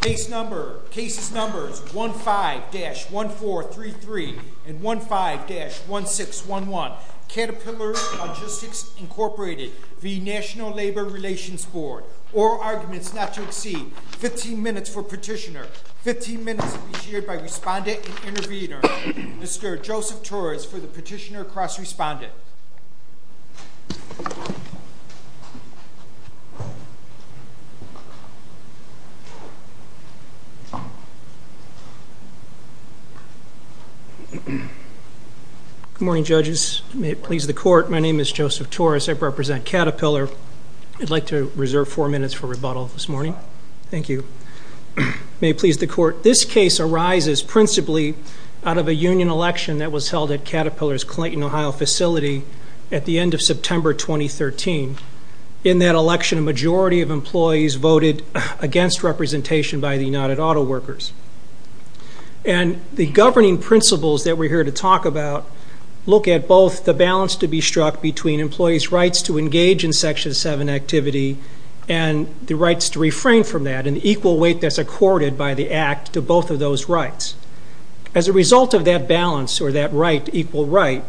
Case numbers 15-1433 and 15-1611. Caterpillar Logistics Inc v. NLRB Oral arguments not to exceed 15 minutes for petitioner. 15 minutes will be shared by respondent and intervener. Mr. Joseph Torres for the petitioner cross-respondent. Good morning judges. May it please the court. My name is Joseph Torres. I represent Caterpillar. I'd like to reserve four minutes for rebuttal this morning. Thank you. May it please the court. This case arises principally out of a union election that was held at Caterpillar's Clinton, Ohio facility at the end of September 2013. In that election, a majority of employees voted against representation by the United Auto Workers. And the governing principles that we're here to talk about look at both the balance to be struck between employees' rights to engage in Section 7 activity and the rights to refrain from that and equal weight that's accorded by the Act to both of those rights. As a result of that balance or that right, equal right,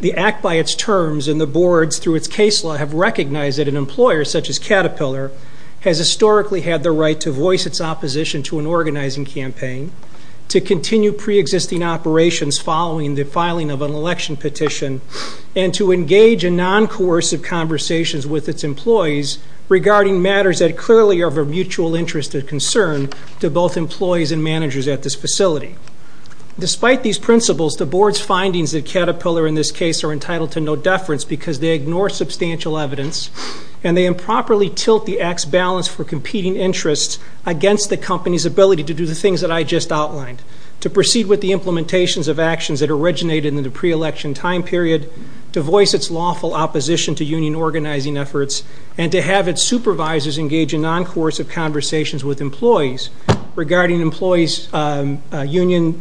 the Act by its terms and the boards through its case law have recognized that an employer such as Caterpillar has historically had the right to voice its opposition to an organizing campaign, to continue pre-existing operations following the filing of an election petition, and to engage in non-coercive conversations with its employees regarding matters that clearly are of a mutual interest and concern to both employees and managers at this facility. Despite these principles, the board's findings of Caterpillar in this case are entitled to no deference because they ignore substantial evidence and they improperly tilt the Act's balance for competing interests against the company's ability to do the things that I just outlined. To proceed with the implementations of actions that originated in the pre-election time period, to voice its lawful opposition to union organizing efforts, and to have its supervisors engage in non-coercive conversations with employees regarding employees' union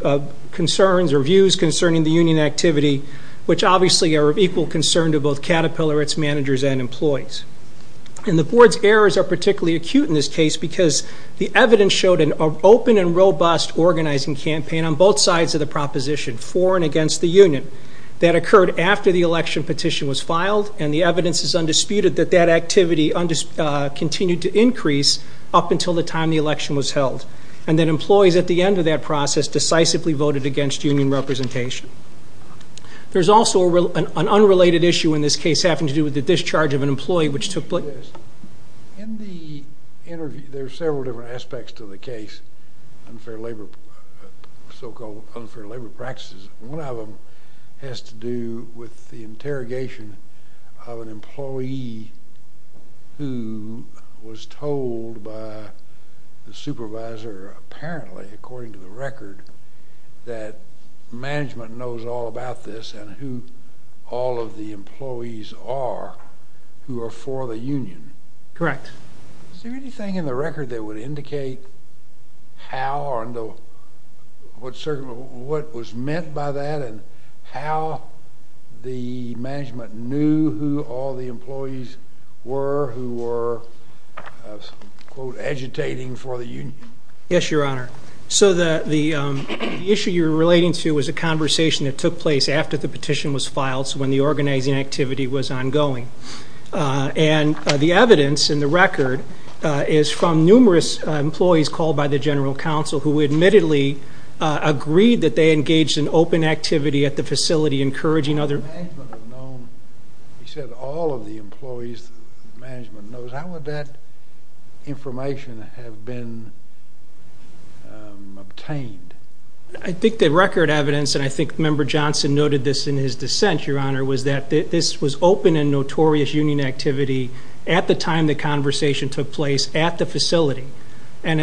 concerns or views concerning the union activity, which obviously are of equal concern to both Caterpillar, its managers, and employees. And the board's errors are particularly acute in this case because the evidence showed an open and robust organizing campaign on both sides of the proposition, for and against the union, that occurred after the election petition was filed, and the evidence is undisputed that that activity continued to increase up until the time the election was held, and that employees at the end of that process decisively voted against union representation. There's also an unrelated issue in this case having to do with the discharge of an employee which took place. In the interview, there are several different aspects to the case, so-called unfair labor practices. Is there anything in the record that would indicate how or what was meant by that and how the management knew who all the employees were who were, quote, agitating for the union? Yes, Your Honor. So the issue you're relating to was a conversation that took place after the petition was filed, so when the organizing activity was ongoing. And the evidence in the record is from numerous employees called by the general counsel who admittedly agreed that they engaged in open activity at the facility encouraging other- If the management had known, you said, all of the employees the management knows, how would that information have been obtained? I think the record evidence, and I think Member Johnson noted this in his dissent, Your Honor, was that this was open and notorious union activity at the time the conversation took place at the facility. And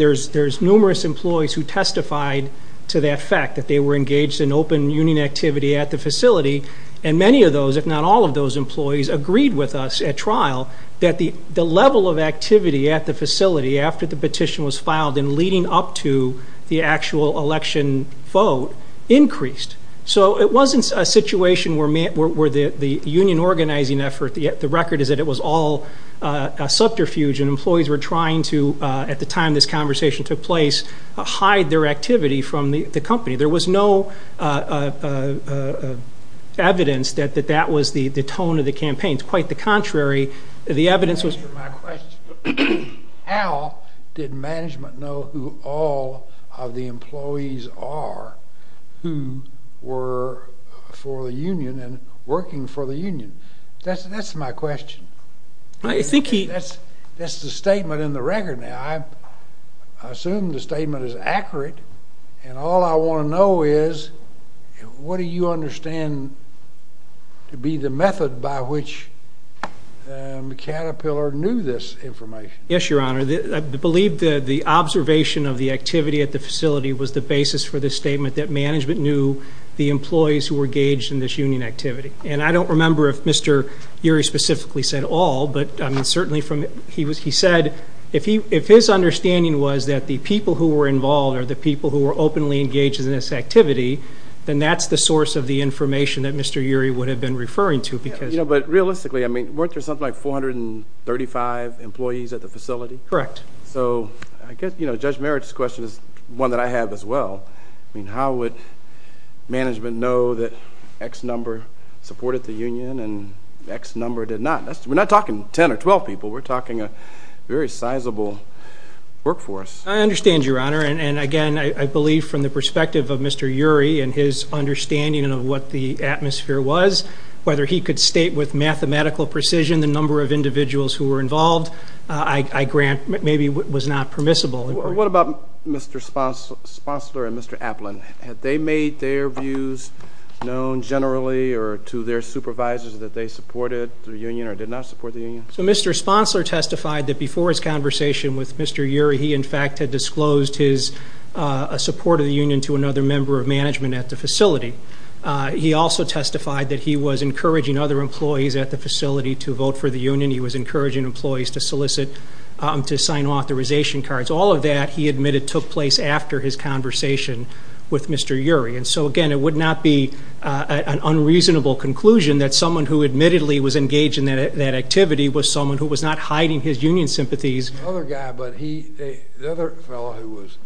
there's numerous employees who testified to that fact, that they were engaged in open union activity at the facility. And many of those, if not all of those employees, agreed with us at trial that the level of activity at the facility after the petition was filed and leading up to the actual election vote increased. So it wasn't a situation where the union organizing effort, the record is that it was all subterfuge and employees were trying to, at the time this conversation took place, hide their activity from the company. There was no evidence that that was the tone of the campaign. Quite the contrary, the evidence was- Answer my question. How did management know who all of the employees are who were for the union and working for the union? That's my question. I think he- That's the statement in the record now. I assume the statement is accurate. And all I want to know is what do you understand to be the method by which Caterpillar knew this information? Yes, Your Honor. I believe the observation of the activity at the facility was the basis for the statement that management knew the employees who were engaged in this union activity. And I don't remember if Mr. Urey specifically said all, but certainly he said if his understanding was that the people who were involved or the people who were openly engaged in this activity, then that's the source of the information that Mr. Urey would have been referring to because- But realistically, weren't there something like 435 employees at the facility? Correct. So I guess Judge Merritt's question is one that I have as well. I mean, how would management know that X number supported the union and X number did not? We're not talking 10 or 12 people. We're talking a very sizable workforce. I understand, Your Honor. And, again, I believe from the perspective of Mr. Urey and his understanding of what the atmosphere was, whether he could state with mathematical precision the number of individuals who were involved, I grant maybe was not permissible. What about Mr. Sponsler and Mr. Applin? Had they made their views known generally or to their supervisors that they supported the union or did not support the union? So Mr. Sponsler testified that before his conversation with Mr. Urey, he, in fact, had disclosed his support of the union to another member of management at the facility. He also testified that he was encouraging other employees at the facility to vote for the union. He was encouraging employees to solicit to sign authorization cards. All of that, he admitted, took place after his conversation with Mr. Urey. And so, again, it would not be an unreasonable conclusion that someone who admittedly was engaged in that activity was someone who was not hiding his union sympathies. The other guy, but the other fellow who was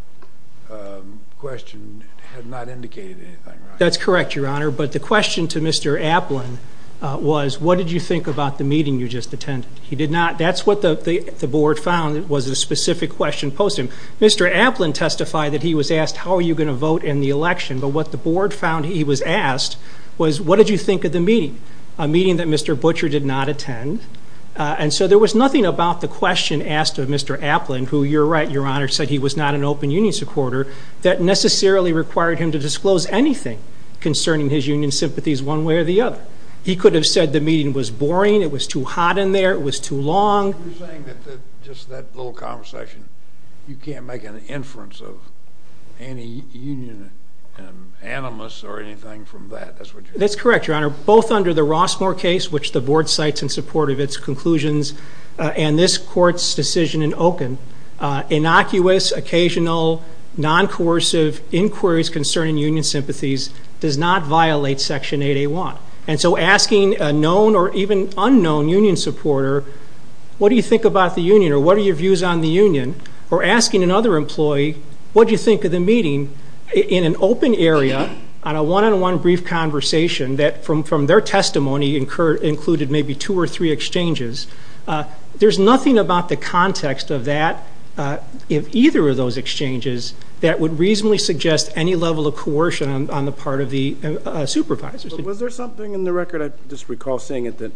questioned had not indicated anything, right? That's correct, Your Honor. But the question to Mr. Applin was, what did you think about the meeting you just attended? He did not. That's what the board found was a specific question posed to him. Mr. Applin testified that he was asked, how are you going to vote in the election? But what the board found he was asked was, what did you think of the meeting? A meeting that Mr. Butcher did not attend. And so there was nothing about the question asked of Mr. Applin, who, you're right, Your Honor, said he was not an open union supporter, that necessarily required him to disclose anything concerning his union sympathies one way or the other. He could have said the meeting was boring, it was too hot in there, it was too long. You're saying that just that little conversation, you can't make an inference of any union animus or anything from that. That's what you're saying. That's correct, Your Honor. Both under the Rossmore case, which the board cites in support of its conclusions, and this court's decision in Oken, innocuous, occasional, non-coercive inquiries concerning union sympathies does not violate Section 8A1. And so asking a known or even unknown union supporter, what do you think about the union? Or what are your views on the union? Or asking another employee, what do you think of the meeting in an open area on a one-on-one brief conversation that from their testimony included maybe two or three exchanges? There's nothing about the context of that in either of those exchanges that would reasonably suggest any level of coercion on the part of the supervisors. Was there something in the record, I just recall seeing it, maybe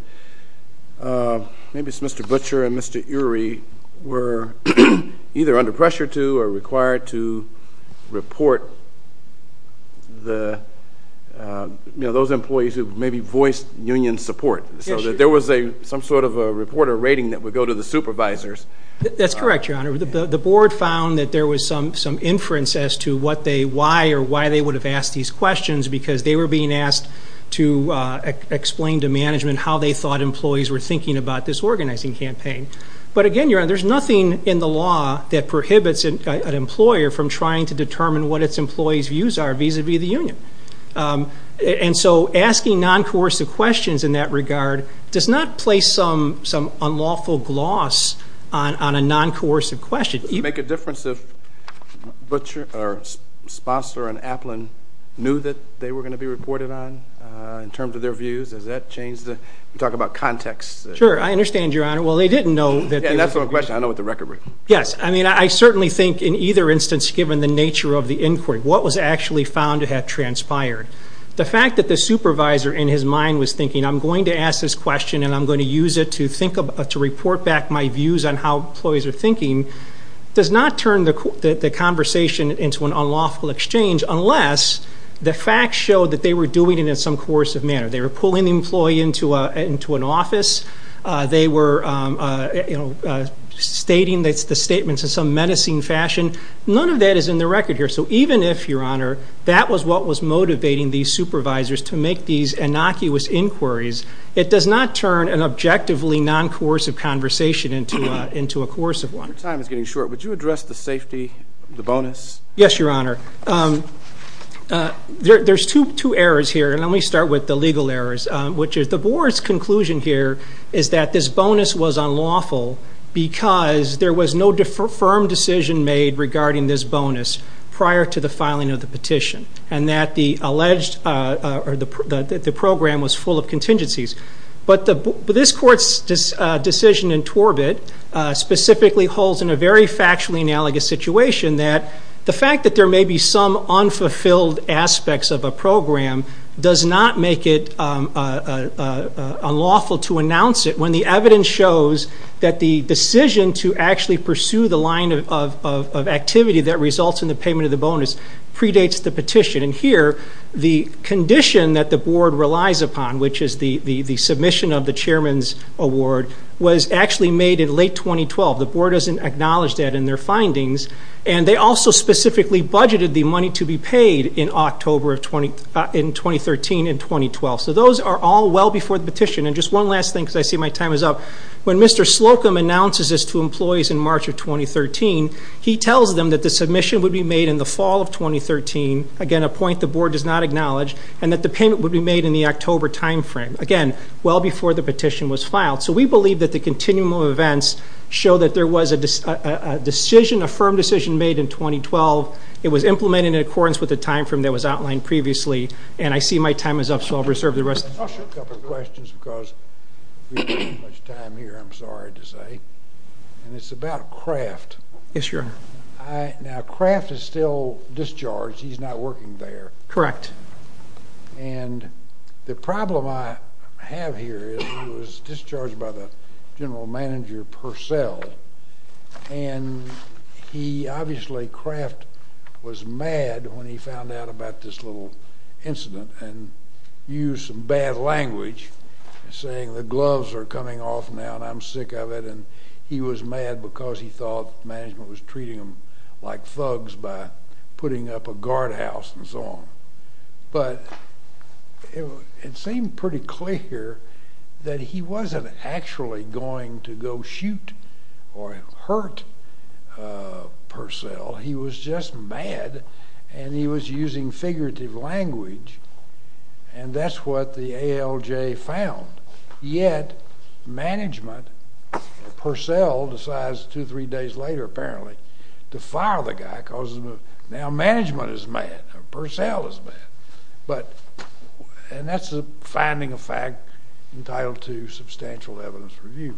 it's Mr. Butcher and Mr. Urey were either under pressure to or required to report those employees who maybe voiced union support. There was some sort of a report or rating that would go to the supervisors. That's correct, Your Honor. The board found that there was some inference as to why they would have asked these questions because they were being asked to explain to management how they thought employees were thinking about this organizing campaign. But again, Your Honor, there's nothing in the law that prohibits an employer from trying to determine what its employees' views are vis-à-vis the union. And so asking non-coercive questions in that regard does not place some unlawful gloss on a non-coercive question. Would it make a difference if Butcher or Sposser and Applin knew that they were going to be reported on in terms of their views? Does that change the talk about context? I understand, Your Honor. Well, they didn't know. Yeah, that's what I'm questioning. I know what the record was. Yes. I mean, I certainly think in either instance, given the nature of the inquiry, what was actually found to have transpired. The fact that the supervisor in his mind was thinking, I'm going to ask this question and I'm going to use it to report back my views on how employees are thinking, does not turn the conversation into an unlawful exchange unless the facts show that they were doing it in some coercive manner. They were pulling the employee into an office. They were stating the statements in some menacing fashion. None of that is in the record here. So even if, Your Honor, that was what was motivating these supervisors to make these innocuous inquiries, it does not turn an objectively non-coercive conversation into a coercive one. Your time is getting short. Would you address the safety, the bonus? Yes, Your Honor. There's two errors here, and let me start with the legal errors, which is the Board's conclusion here is that this bonus was unlawful because there was no firm decision made regarding this bonus prior to the filing of the petition and that the program was full of contingencies. But this Court's decision in Torbett specifically holds in a very factually analogous situation that the fact that there may be some unfulfilled aspects of a program does not make it unlawful to announce it when the evidence shows that the decision to actually pursue the line of activity that results in the payment of the bonus predates the petition. And here, the condition that the Board relies upon, which is the submission of the Chairman's award, was actually made in late 2012. The Board doesn't acknowledge that in their findings, and they also specifically budgeted the money to be paid in 2013 and 2012. So those are all well before the petition. And just one last thing because I see my time is up. When Mr. Slocum announces this to employees in March of 2013, he tells them that the submission would be made in the fall of 2013, again, a point the Board does not acknowledge, and that the payment would be made in the October time frame, again, well before the petition was filed. So we believe that the continuum of events show that there was a firm decision made in 2012. It was implemented in accordance with the time frame that was outlined previously, and I see my time is up, so I'll reserve the rest. I have a couple of questions because we don't have much time here, I'm sorry to say, and it's about Kraft. Yes, sir. Now, Kraft is still discharged. He's not working there. Correct. And the problem I have here is he was discharged by the general manager, Purcell, and he obviously, Kraft, was mad when he found out about this little incident and used some bad language, saying the gloves are coming off now and I'm sick of it, and he was mad because he thought management was treating him like thugs by putting up a guardhouse and so on. But it seemed pretty clear that he wasn't actually going to go shoot or hurt Purcell. He was just mad, and he was using figurative language, and that's what the ALJ found. Yet management, Purcell decides two or three days later, apparently, to fire the guy because now management is mad. Purcell is mad, and that's the finding of fact entitled to substantial evidence review.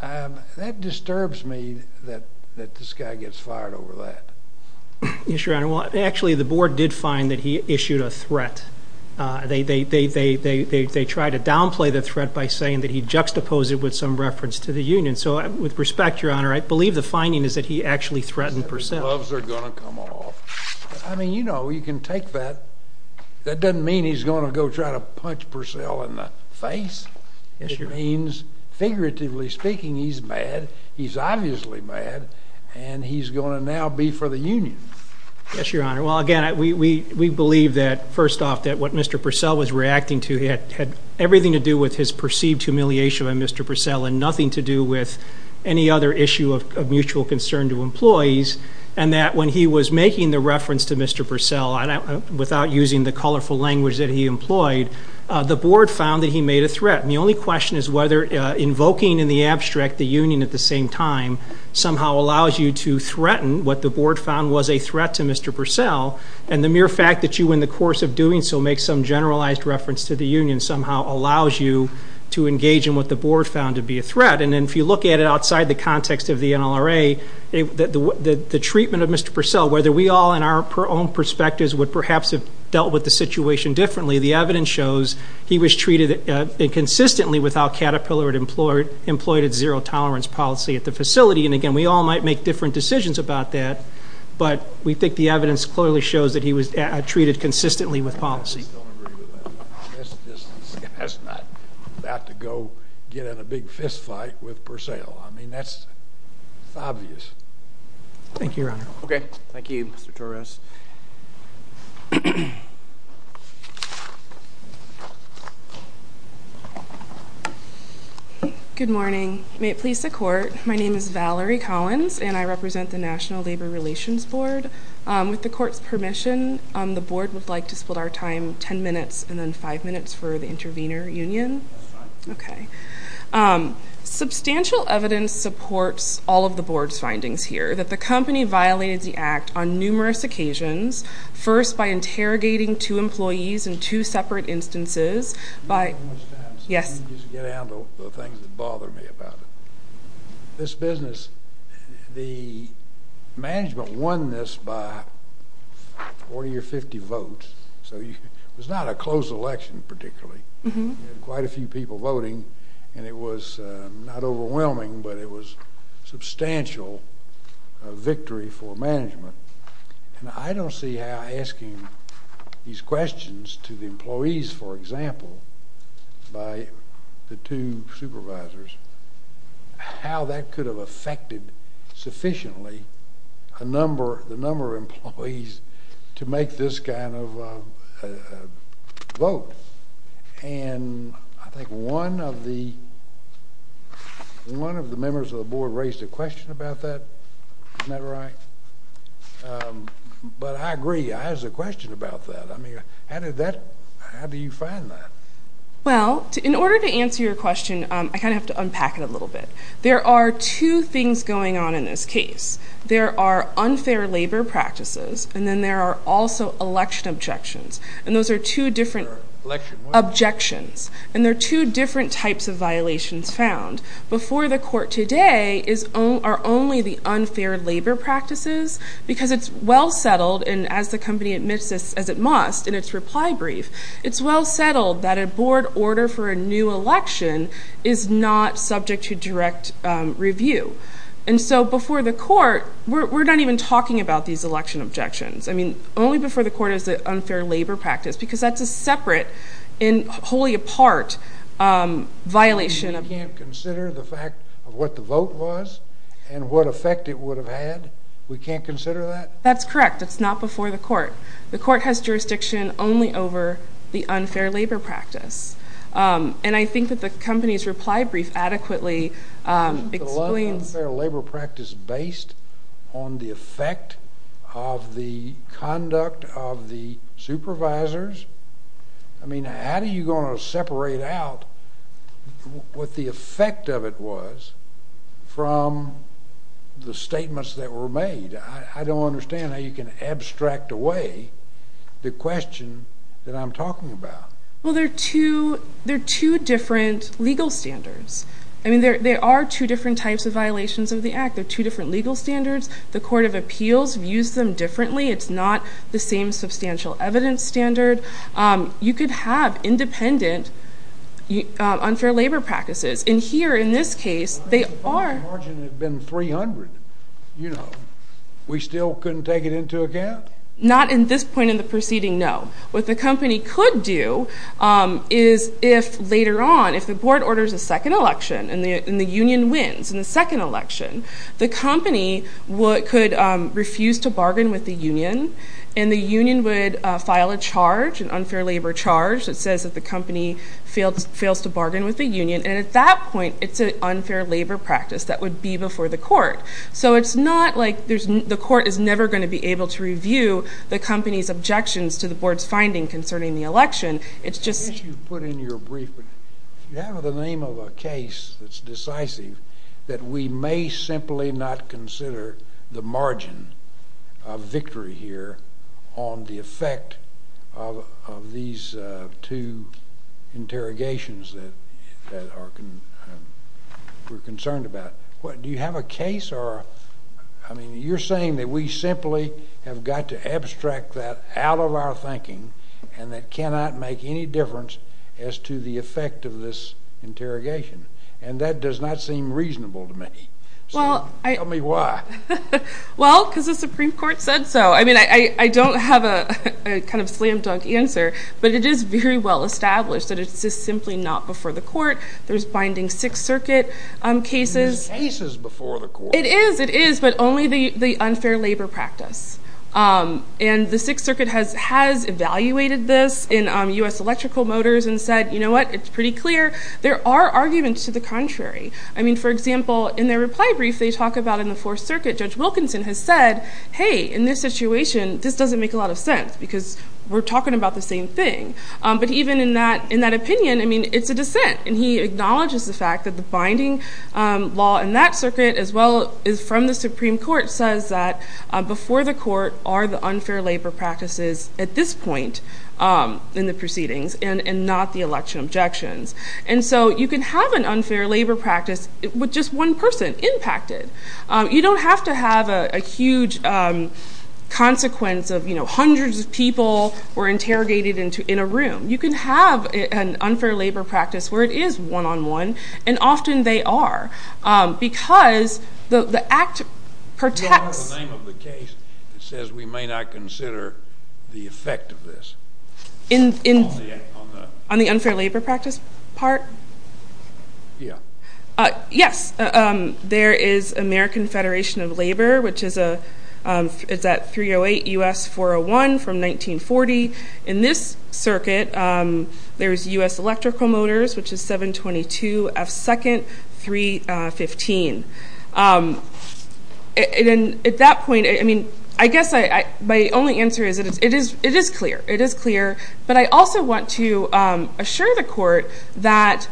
That disturbs me that this guy gets fired over that. Yes, Your Honor. Well, actually, the board did find that he issued a threat. They tried to downplay the threat by saying that he juxtaposed it with some reference to the union. So with respect, Your Honor, I believe the finding is that he actually threatened Purcell. The gloves are going to come off. I mean, you know, you can take that. That doesn't mean he's going to go try to punch Purcell in the face. Yes, Your Honor. That means, figuratively speaking, he's mad, he's obviously mad, and he's going to now be for the union. Yes, Your Honor. Well, again, we believe that, first off, that what Mr. Purcell was reacting to had everything to do with his perceived humiliation of Mr. Purcell and nothing to do with any other issue of mutual concern to employees, and that when he was making the reference to Mr. Purcell without using the colorful language that he employed, the board found that he made a threat. And the only question is whether invoking in the abstract the union at the same time somehow allows you to threaten what the board found was a threat to Mr. Purcell, and the mere fact that you, in the course of doing so, make some generalized reference to the union somehow allows you to engage in what the board found to be a threat. And then if you look at it outside the context of the NLRA, the treatment of Mr. Purcell, whether we all, in our own perspectives, would perhaps have dealt with the situation differently, the evidence shows he was treated inconsistently with our Caterpillar-employed and zero-tolerance policy at the facility. And, again, we all might make different decisions about that, but we think the evidence clearly shows that he was treated consistently with policy. I still agree with that. That's not about to go get in a big fistfight with Purcell. I mean, that's obvious. Thank you, Your Honor. Okay. Thank you, Mr. Torres. Good morning. May it please the court, my name is Valerie Collins, and I represent the National Labor Relations Board. With the court's permission, the board would like to split our time ten minutes and then five minutes for the intervener union. Okay. Substantial evidence supports all of the board's findings here, that the company violated the act on numerous occasions, first by interrogating two employees in two separate instances by How much time? Yes. Just get down to the things that bother me about it. This business, the management won this by 40 or 50 votes, so it was not a close election particularly. You had quite a few people voting, and it was not overwhelming, but it was a substantial victory for management. And I don't see how asking these questions to the employees, for example, by the two supervisors, how that could have affected sufficiently the number of employees to make this kind of vote. And I think one of the members of the board raised a question about that. Isn't that right? But I agree. I have a question about that. I mean, how do you find that? Well, in order to answer your question, I kind of have to unpack it a little bit. There are two things going on in this case. There are unfair labor practices, and then there are also election objections, and those are two different objections, and there are two different types of violations found. Before the court today are only the unfair labor practices because it's well settled, and as the company admits this, as it must in its reply brief, it's well settled that a board order for a new election is not subject to direct review. And so before the court, we're not even talking about these election objections. I mean, only before the court is the unfair labor practice because that's a separate and wholly apart violation. You can't consider the fact of what the vote was and what effect it would have had? We can't consider that? That's correct. It's not before the court. The court has jurisdiction only over the unfair labor practice, and I think that the company's reply brief adequately explains... The unfair labor practice based on the effect of the conduct of the supervisors? I mean, how are you going to separate out what the effect of it was from the statements that were made? I don't understand how you can abstract away the question that I'm talking about. Well, there are two different legal standards. I mean, there are two different types of violations of the Act. There are two different legal standards. The Court of Appeals views them differently. It's not the same substantial evidence standard. You could have independent unfair labor practices, and here in this case they are... If the margin had been 300, you know, we still couldn't take it into account? Not at this point in the proceeding, no. What the company could do is if later on, if the board orders a second election and the union wins in the second election, the company could refuse to bargain with the union, and the union would file a charge, an unfair labor charge, that says that the company fails to bargain with the union, and at that point it's an unfair labor practice that would be before the court. So it's not like the court is never going to be able to review the company's objections to the board's finding concerning the election. It's just... I guess you put in your brief, but if you have the name of a case that's decisive that we may simply not consider the margin of victory here on the effect of these two interrogations that we're concerned about. Do you have a case or... I mean, you're saying that we simply have got to abstract that out of our thinking and that cannot make any difference as to the effect of this interrogation, and that does not seem reasonable to me. Tell me why. Well, because the Supreme Court said so. I mean, I don't have a kind of slam dunk answer, but it is very well established that it's just simply not before the court. There's binding Sixth Circuit cases. There's cases before the court. It is, it is, but only the unfair labor practice. And the Sixth Circuit has evaluated this in U.S. Electrical Motors and said, you know what, it's pretty clear. There are arguments to the contrary. I mean, for example, in their reply brief, they talk about in the Fourth Circuit Judge Wilkinson has said, hey, in this situation, this doesn't make a lot of sense because we're talking about the same thing. But even in that opinion, I mean, it's a dissent, and he acknowledges the fact that the binding law in that circuit as well as from the Supreme Court says that before the court are the unfair labor practices at this point in the proceedings and not the election objections. And so you can have an unfair labor practice with just one person impacted. You don't have to have a huge consequence of, you know, hundreds of people were interrogated in a room. You can have an unfair labor practice where it is one-on-one, and often they are because the act protects. The name of the case says we may not consider the effect of this. On the unfair labor practice part? Yeah. Yes. There is American Federation of Labor, which is at 308 U.S. 401 from 1940. In this circuit, there is U.S. Electrical Motors, which is 722 F2nd 315. At that point, I mean, I guess my only answer is it is clear. It is clear. But I also want to assure the court that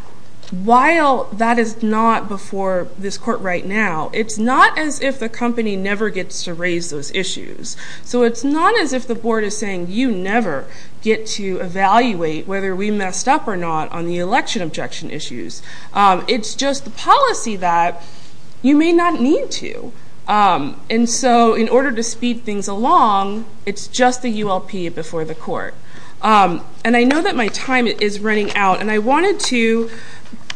while that is not before this court right now, it's not as if the company never gets to raise those issues. So it's not as if the board is saying you never get to evaluate whether we messed up or not on the election objection issues. It's just the policy that you may not need to. And so in order to speed things along, it's just the ULP before the court. And I know that my time is running out, and I wanted to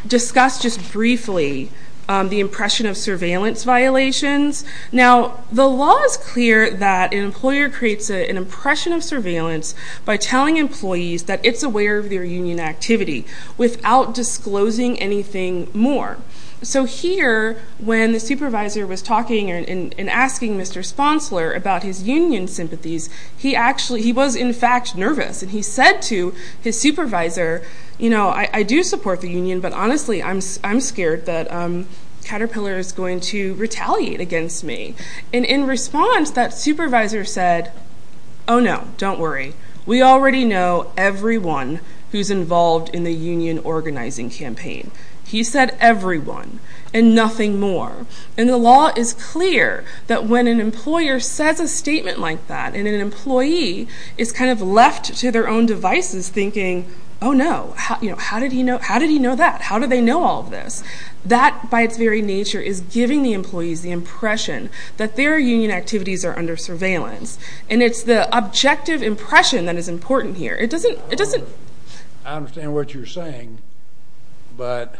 discuss just briefly the impression of surveillance violations. Now, the law is clear that an employer creates an impression of surveillance by telling employees that it's aware of their union activity without disclosing anything more. So here, when the supervisor was talking and asking Mr. Sponsler about his union sympathies, he was, in fact, nervous. And he said to his supervisor, you know, I do support the union, but honestly, I'm scared that Caterpillar is going to retaliate against me. And in response, that supervisor said, oh, no, don't worry. We already know everyone who's involved in the union organizing campaign. He said everyone and nothing more. And the law is clear that when an employer says a statement like that and an employee is kind of left to their own devices thinking, oh, no, how did he know that? How do they know all of this? That, by its very nature, is giving the employees the impression that their union activities are under surveillance. And it's the objective impression that is important here. It doesn't. I understand what you're saying, but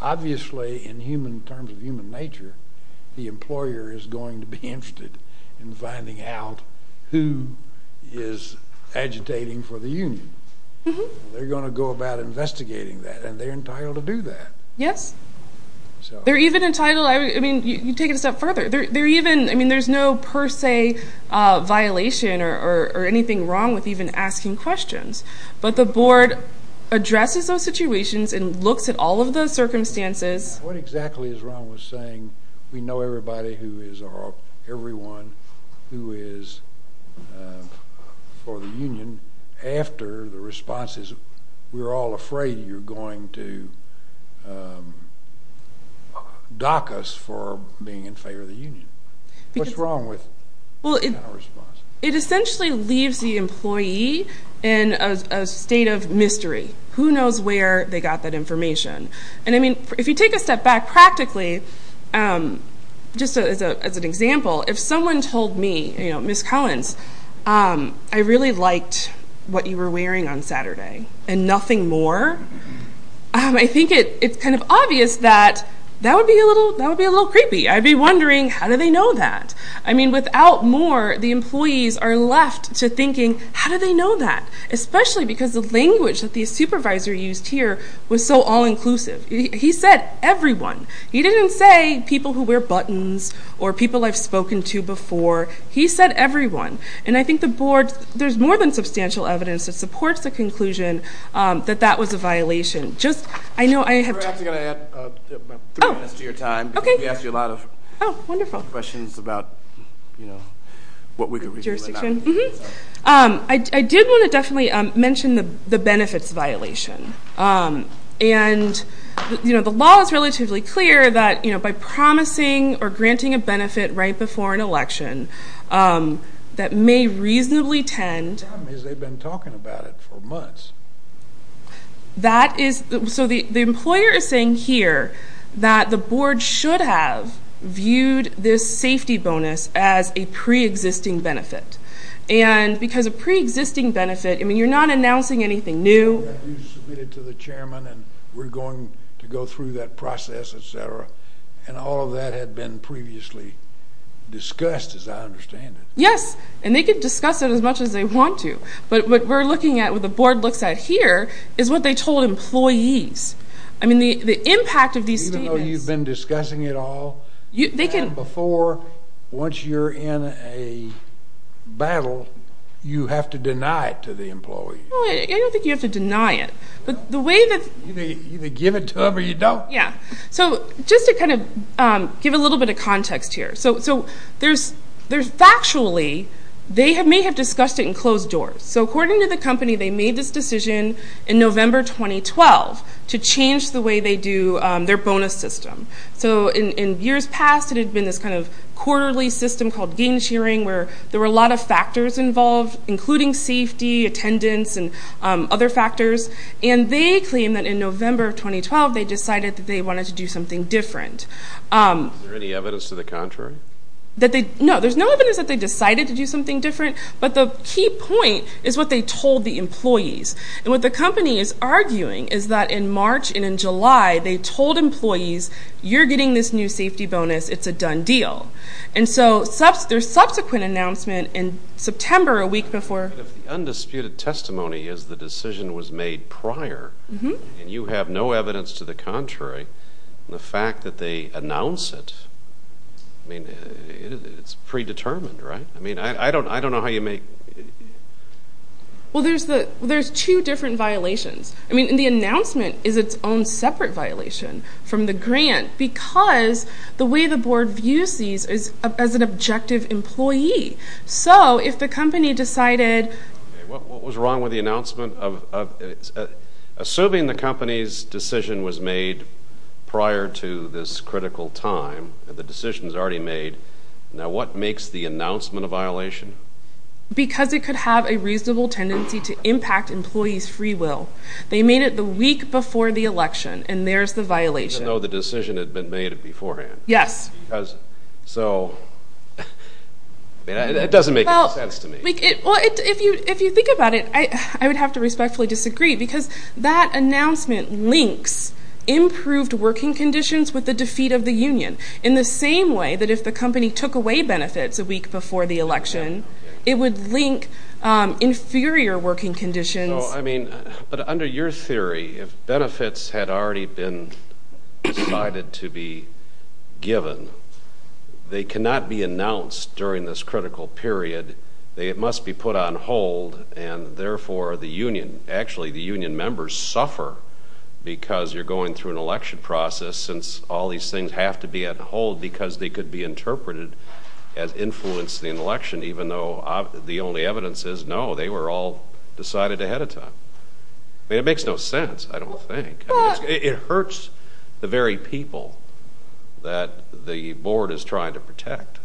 obviously in terms of human nature, the employer is going to be interested in finding out who is agitating for the union. They're going to go about investigating that, and they're entitled to do that. Yes. They're even entitled. I mean, you take it a step further. I mean, there's no per se violation or anything wrong with even asking questions. But the board addresses those situations and looks at all of those circumstances. What exactly is wrong with saying we know everyone who is for the union after the response is we're all afraid you're going to dock us for being in favor of the union? What's wrong with that kind of response? It essentially leaves the employee in a state of mystery. Who knows where they got that information? And, I mean, if you take a step back practically, just as an example, if someone told me, you know, Ms. Cohens, I really liked what you were wearing on Saturday and nothing more, I think it's kind of obvious that that would be a little creepy. I'd be wondering, how do they know that? I mean, without more, the employees are left to thinking, how do they know that? Especially because the language that the supervisor used here was so all-inclusive. He said everyone. He didn't say people who wear buttons or people I've spoken to before. He said everyone. And I think the board, there's more than substantial evidence that supports the conclusion that that was a violation. Just, I know I have to add three minutes to your time because we asked you a lot of questions about, you know, what we could review. Jurisdiction. I did want to definitely mention the benefits violation. And, you know, the law is relatively clear that, you know, by promising or granting a benefit right before an election that may reasonably tend. The problem is they've been talking about it for months. That is, so the employer is saying here that the board should have viewed this safety bonus as a preexisting benefit. And because a preexisting benefit, I mean, you're not announcing anything new. You submitted to the chairman and we're going to go through that process, et cetera. And all of that had been previously discussed, as I understand it. Yes, and they could discuss it as much as they want to. But what we're looking at, what the board looks at here, is what they told employees. I mean, the impact of these statements. Even though you've been discussing it all. They can. Before, once you're in a battle, you have to deny it to the employee. I don't think you have to deny it. You either give it to them or you don't. Yeah, so just to kind of give a little bit of context here. So factually, they may have discussed it and closed doors. So according to the company, they made this decision in November 2012 to change the way they do their bonus system. So in years past, it had been this kind of quarterly system called gain sharing where there were a lot of factors involved, including safety, attendance, and other factors. And they claim that in November of 2012, they decided that they wanted to do something different. Is there any evidence to the contrary? No, there's no evidence that they decided to do something different. But the key point is what they told the employees. And what the company is arguing is that in March and in July, they told employees, you're getting this new safety bonus, it's a done deal. And so their subsequent announcement in September, a week before. The undisputed testimony is the decision was made prior. And you have no evidence to the contrary. The fact that they announce it, I mean, it's predetermined, right? I mean, I don't know how you make. Well, there's two different violations. Because the way the board views these is as an objective employee. So if the company decided. What was wrong with the announcement? Assuming the company's decision was made prior to this critical time, the decision's already made, now what makes the announcement a violation? Because it could have a reasonable tendency to impact employees' free will. They made it the week before the election, and there's the violation. Even though the decision had been made beforehand. Yes. So it doesn't make any sense to me. Well, if you think about it, I would have to respectfully disagree. Because that announcement links improved working conditions with the defeat of the union. In the same way that if the company took away benefits a week before the election, it would link inferior working conditions. No, I mean, but under your theory, if benefits had already been decided to be given, they cannot be announced during this critical period. It must be put on hold, and therefore the union, actually the union members, suffer because you're going through an election process, since all these things have to be on hold because they could be interpreted as influencing the election. And even though the only evidence is no, they were all decided ahead of time. I mean, it makes no sense, I don't think. It hurts the very people that the board is trying to protect.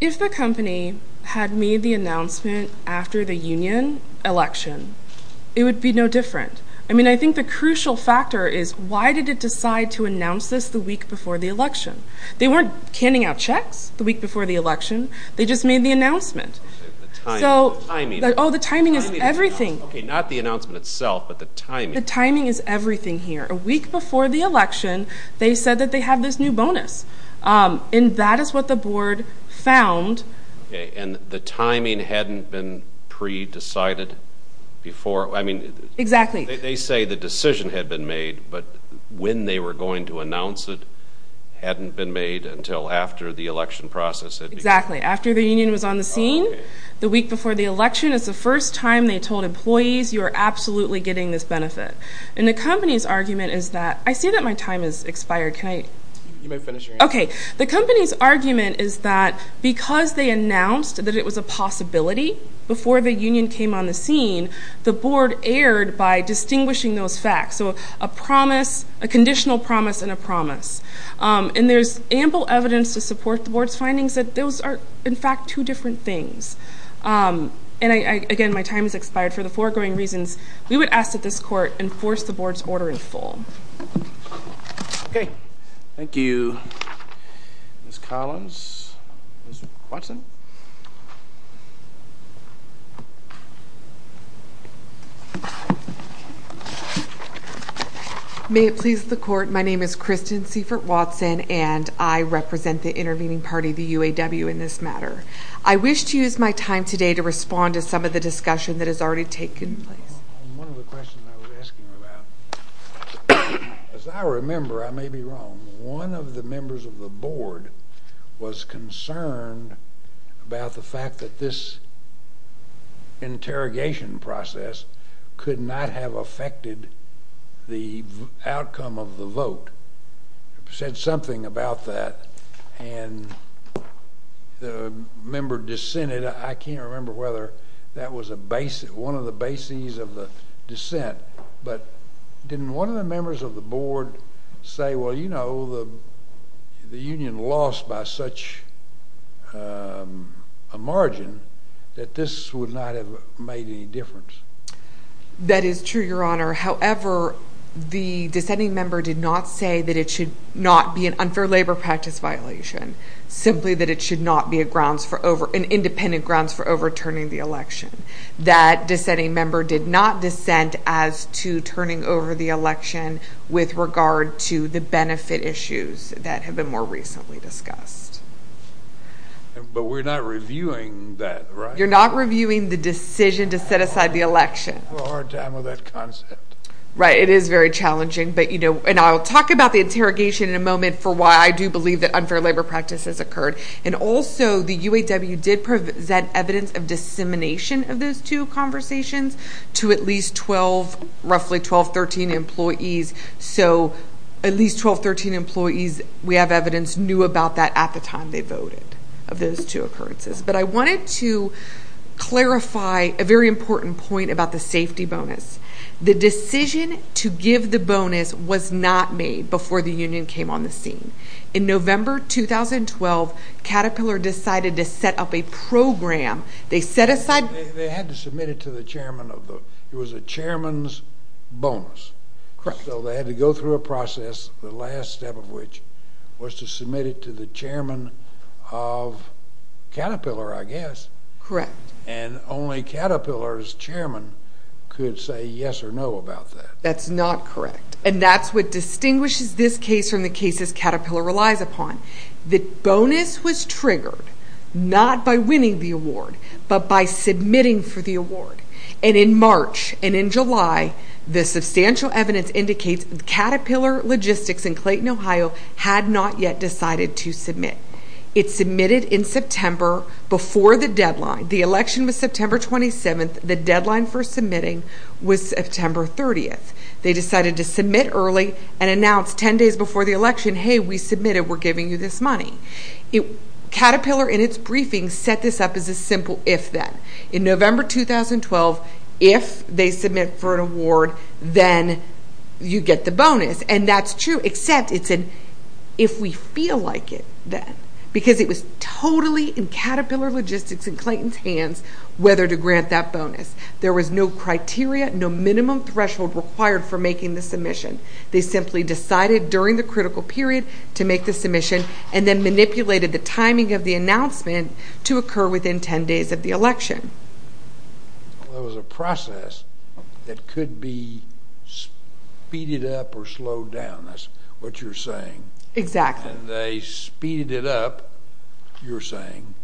If the company had made the announcement after the union election, it would be no different. I mean, I think the crucial factor is why did it decide to announce this the week before the election? They weren't canning out checks the week before the election. They just made the announcement. The timing. Oh, the timing is everything. Okay, not the announcement itself, but the timing. The timing is everything here. A week before the election, they said that they have this new bonus. And that is what the board found. And the timing hadn't been pre-decided before. Exactly. They say the decision had been made, but when they were going to announce it hadn't been made until after the election process had begun. Exactly, after the union was on the scene. The week before the election is the first time they told employees, you are absolutely getting this benefit. And the company's argument is that, I see that my time has expired. You may finish your answer. Okay, the company's argument is that because they announced that it was a possibility before the union came on the scene, the board erred by distinguishing those facts. So a promise, a conditional promise, and a promise. And there's ample evidence to support the board's findings that those are, in fact, two different things. And, again, my time has expired for the foregoing reasons. We would ask that this court enforce the board's order in full. Okay, thank you, Ms. Collins. Ms. Watson. May it please the court, my name is Kristen Seifert Watson, and I represent the intervening party, the UAW, in this matter. I wish to use my time today to respond to some of the discussion that has already taken place. One of the questions I was asking about, as I remember, I may be wrong, but one of the members of the board was concerned about the fact that this interrogation process could not have affected the outcome of the vote. It said something about that, and the member dissented. I can't remember whether that was one of the bases of the dissent, but didn't one of the members of the board say, well, you know, the union lost by such a margin that this would not have made any difference? That is true, Your Honor. However, the dissenting member did not say that it should not be an unfair labor practice violation, simply that it should not be an independent grounds for overturning the election. That dissenting member did not dissent as to turning over the election with regard to the benefit issues that have been more recently discussed. But we're not reviewing that, right? You're not reviewing the decision to set aside the election. Well, hard time with that concept. Right, it is very challenging, and I'll talk about the interrogation in a moment for why I do believe that unfair labor practice has occurred. And also, the UAW did present evidence of dissemination of those two conversations to at least 12, roughly 12, 13 employees. So at least 12, 13 employees, we have evidence, knew about that at the time they voted of those two occurrences. But I wanted to clarify a very important point about the safety bonus. The decision to give the bonus was not made before the union came on the scene. In November 2012, Caterpillar decided to set up a program. They set aside. They had to submit it to the chairman. It was a chairman's bonus. Correct. So they had to go through a process, the last step of which was to submit it to the chairman of Caterpillar, I guess. Correct. And only Caterpillar's chairman could say yes or no about that. That's not correct. And that's what distinguishes this case from the cases Caterpillar relies upon. The bonus was triggered not by winning the award but by submitting for the award. And in March and in July, the substantial evidence indicates Caterpillar Logistics in Clayton, Ohio, had not yet decided to submit. It submitted in September before the deadline. The election was September 27th. The deadline for submitting was September 30th. They decided to submit early and announce 10 days before the election, hey, we submitted, we're giving you this money. Caterpillar, in its briefing, set this up as a simple if-then. In November 2012, if they submit for an award, then you get the bonus. And that's true, except it's an if we feel like it then, because it was totally in Caterpillar Logistics and Clayton's hands whether to grant that bonus. There was no criteria, no minimum threshold required for making the submission. They simply decided during the critical period to make the submission and then manipulated the timing of the announcement to occur within 10 days of the election. It was a process that could be speeded up or slowed down. That's what you're saying. Exactly. And they speeded it up, you're saying.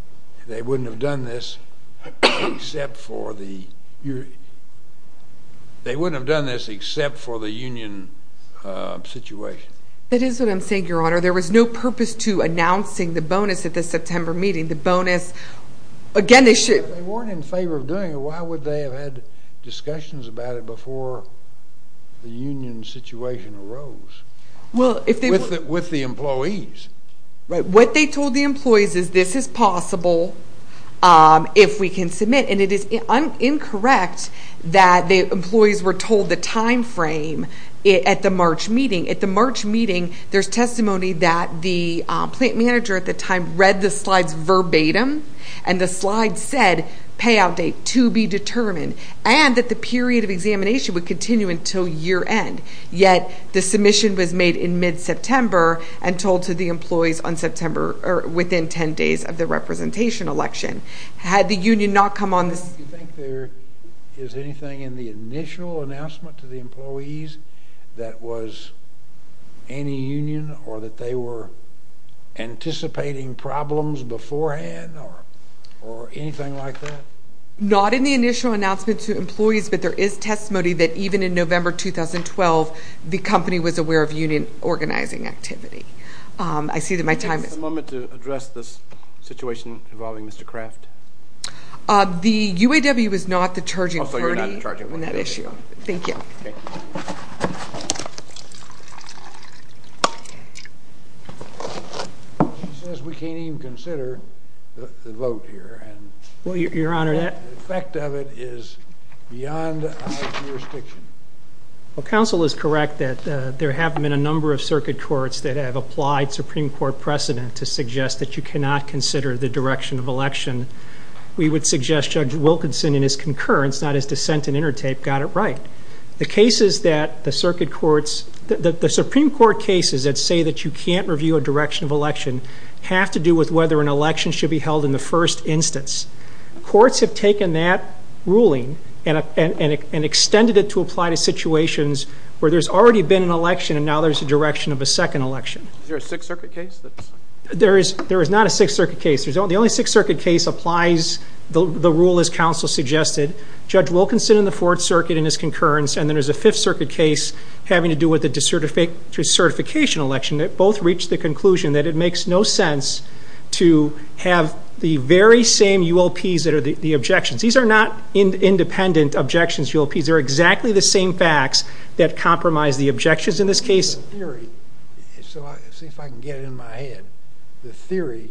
They wouldn't have done this except for the union situation. That is what I'm saying, Your Honor. There was no purpose to announcing the bonus at the September meeting. The bonus, again, they should have. If they weren't in favor of doing it, why would they have had discussions about it before the union situation arose? With the employees. What they told the employees is this is possible if we can submit. And it is incorrect that the employees were told the time frame at the March meeting. At the March meeting, there's testimony that the plant manager at the time read the slides verbatim, and the slides said payout date to be determined, and that the period of examination would continue until year end. Yet the submission was made in mid-September and told to the employees on September or within 10 days of the representation election. Had the union not come on this. Do you think there is anything in the initial announcement to the employees that was any union or that they were anticipating problems beforehand or anything like that? Not in the initial announcement to employees, but there is testimony that even in November 2012, the company was aware of union organizing activity. I see that my time is up. Can I take a moment to address this situation involving Mr. Craft? The UAW is not the charging party on that issue. Thank you. She says we can't even consider the vote here. Well, Your Honor, that The effect of it is beyond our jurisdiction. Well, counsel is correct that there have been a number of circuit courts that have applied Supreme Court precedent to suggest that you cannot consider the direction of election. We would suggest Judge Wilkinson in his concurrence, not his dissent in intertape, got it right. The cases that the circuit courts, the Supreme Court cases that say that you can't review a direction of election, have to do with whether an election should be held in the first instance. Courts have taken that ruling and extended it to apply to situations where there's already been an election and now there's a direction of a second election. Is there a Sixth Circuit case? There is not a Sixth Circuit case. The only Sixth Circuit case applies the rule as counsel suggested. Judge Wilkinson in the Fourth Circuit in his concurrence, and then there's a Fifth Circuit case having to do with the decertification election. They both reached the conclusion that it makes no sense to have the very same UOPs that are the objections. These are not independent objections, UOPs. They're exactly the same facts that compromise the objections in this case. The theory, see if I can get it in my head, the theory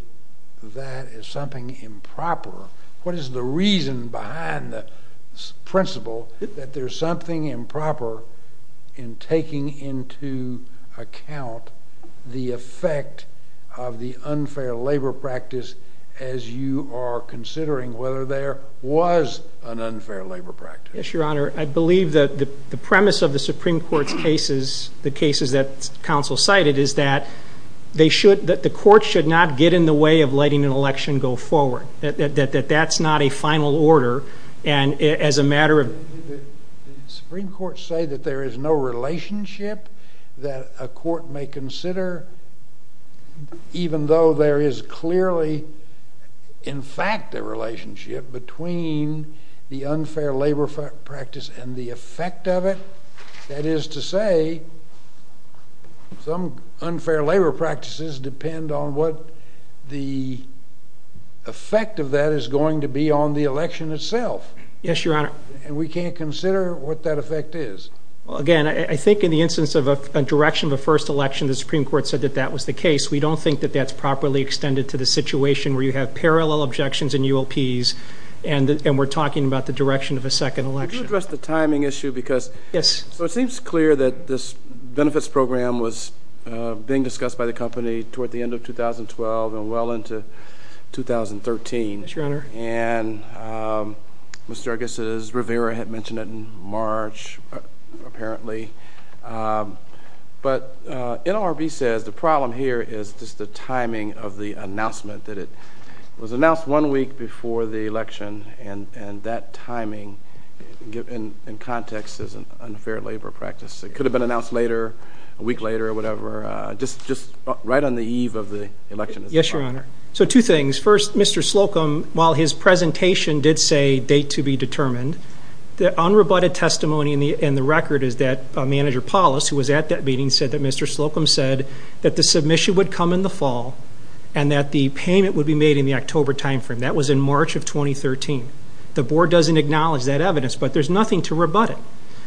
that is something improper, what is the reason behind the principle that there's something improper in taking into account the effect of the unfair labor practice as you are considering whether there was an unfair labor practice? Yes, Your Honor. I believe that the premise of the Supreme Court's cases, the cases that counsel cited, is that the courts should not get in the way of letting an election go forward, that that's not a final order, and as a matter of... Did the Supreme Court say that there is no relationship that a court may consider even though there is clearly, in fact, a relationship between the unfair labor practice and the effect of it? That is to say, some unfair labor practices depend on what the effect of that is going to be on the election itself. Yes, Your Honor. And we can't consider what that effect is. Well, again, I think in the instance of a direction of a first election, the Supreme Court said that that was the case. We don't think that that's properly extended to the situation where you have parallel objections and UOPs and we're talking about the direction of a second election. I want to address the timing issue because... Yes. So it seems clear that this benefits program was being discussed by the company toward the end of 2012 and well into 2013. Yes, Your Honor. And Mr. Argus's Rivera had mentioned it in March, apparently. But NLRB says the problem here is just the timing of the announcement, that it was announced one week before the election and that timing in context is an unfair labor practice. It could have been announced later, a week later or whatever, just right on the eve of the election. Yes, Your Honor. So two things. First, Mr. Slocum, while his presentation did say date to be determined, the unrebutted testimony in the record is that Manager Paulus, who was at that meeting, said that Mr. Slocum said that the submission would come in the fall and that the payment would be made in the October timeframe. That was in March of 2013. The Board doesn't acknowledge that evidence, but there's nothing to rebut it.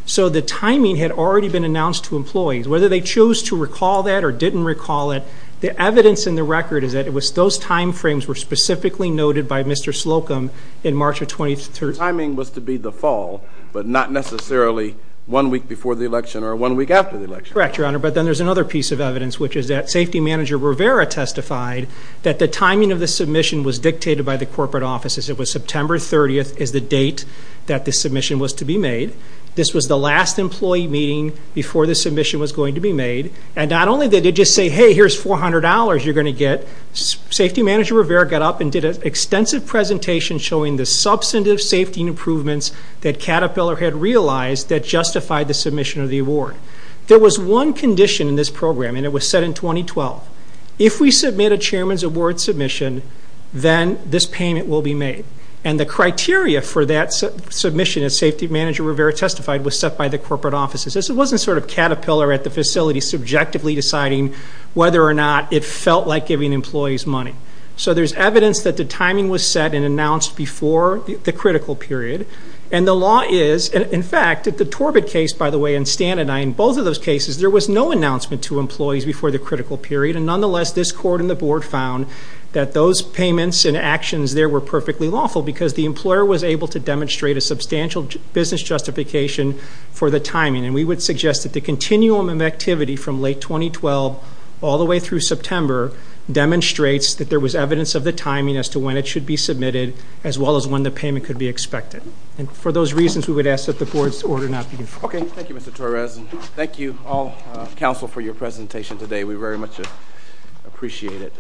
So the timing had already been announced to employees. Whether they chose to recall that or didn't recall it, the evidence in the record is that those timeframes were specifically noted by Mr. Slocum in March of 2013. The timing was to be the fall, but not necessarily one week before the election or one week after the election. Correct, Your Honor, but then there's another piece of evidence, which is that Safety Manager Rivera testified that the timing of the submission was dictated by the corporate offices. It was September 30th is the date that the submission was to be made. This was the last employee meeting before the submission was going to be made. And not only did it just say, hey, here's $400 you're going to get. Safety Manager Rivera got up and did an extensive presentation showing the substantive safety improvements that Caterpillar had realized that justified the submission of the award. There was one condition in this program, and it was set in 2012. If we submit a Chairman's Award submission, then this payment will be made. And the criteria for that submission, as Safety Manager Rivera testified, was set by the corporate offices. It wasn't sort of Caterpillar at the facility subjectively deciding whether or not it felt like giving employees money. So there's evidence that the timing was set and announced before the critical period. And the law is, in fact, at the Torbett case, by the way, and Stan and I, in both of those cases, there was no announcement to employees before the critical period. And nonetheless, this court and the board found that those payments and actions there were perfectly lawful because the employer was able to demonstrate a substantial business justification for the timing. And we would suggest that the continuum of activity from late 2012 all the way through September demonstrates that there was evidence of the timing as to when it should be submitted as well as when the payment could be expected. And for those reasons, we would ask that the board's order not be used. Okay. Thank you, Mr. Torres. And thank you all, counsel, for your presentation today. We very much appreciate it.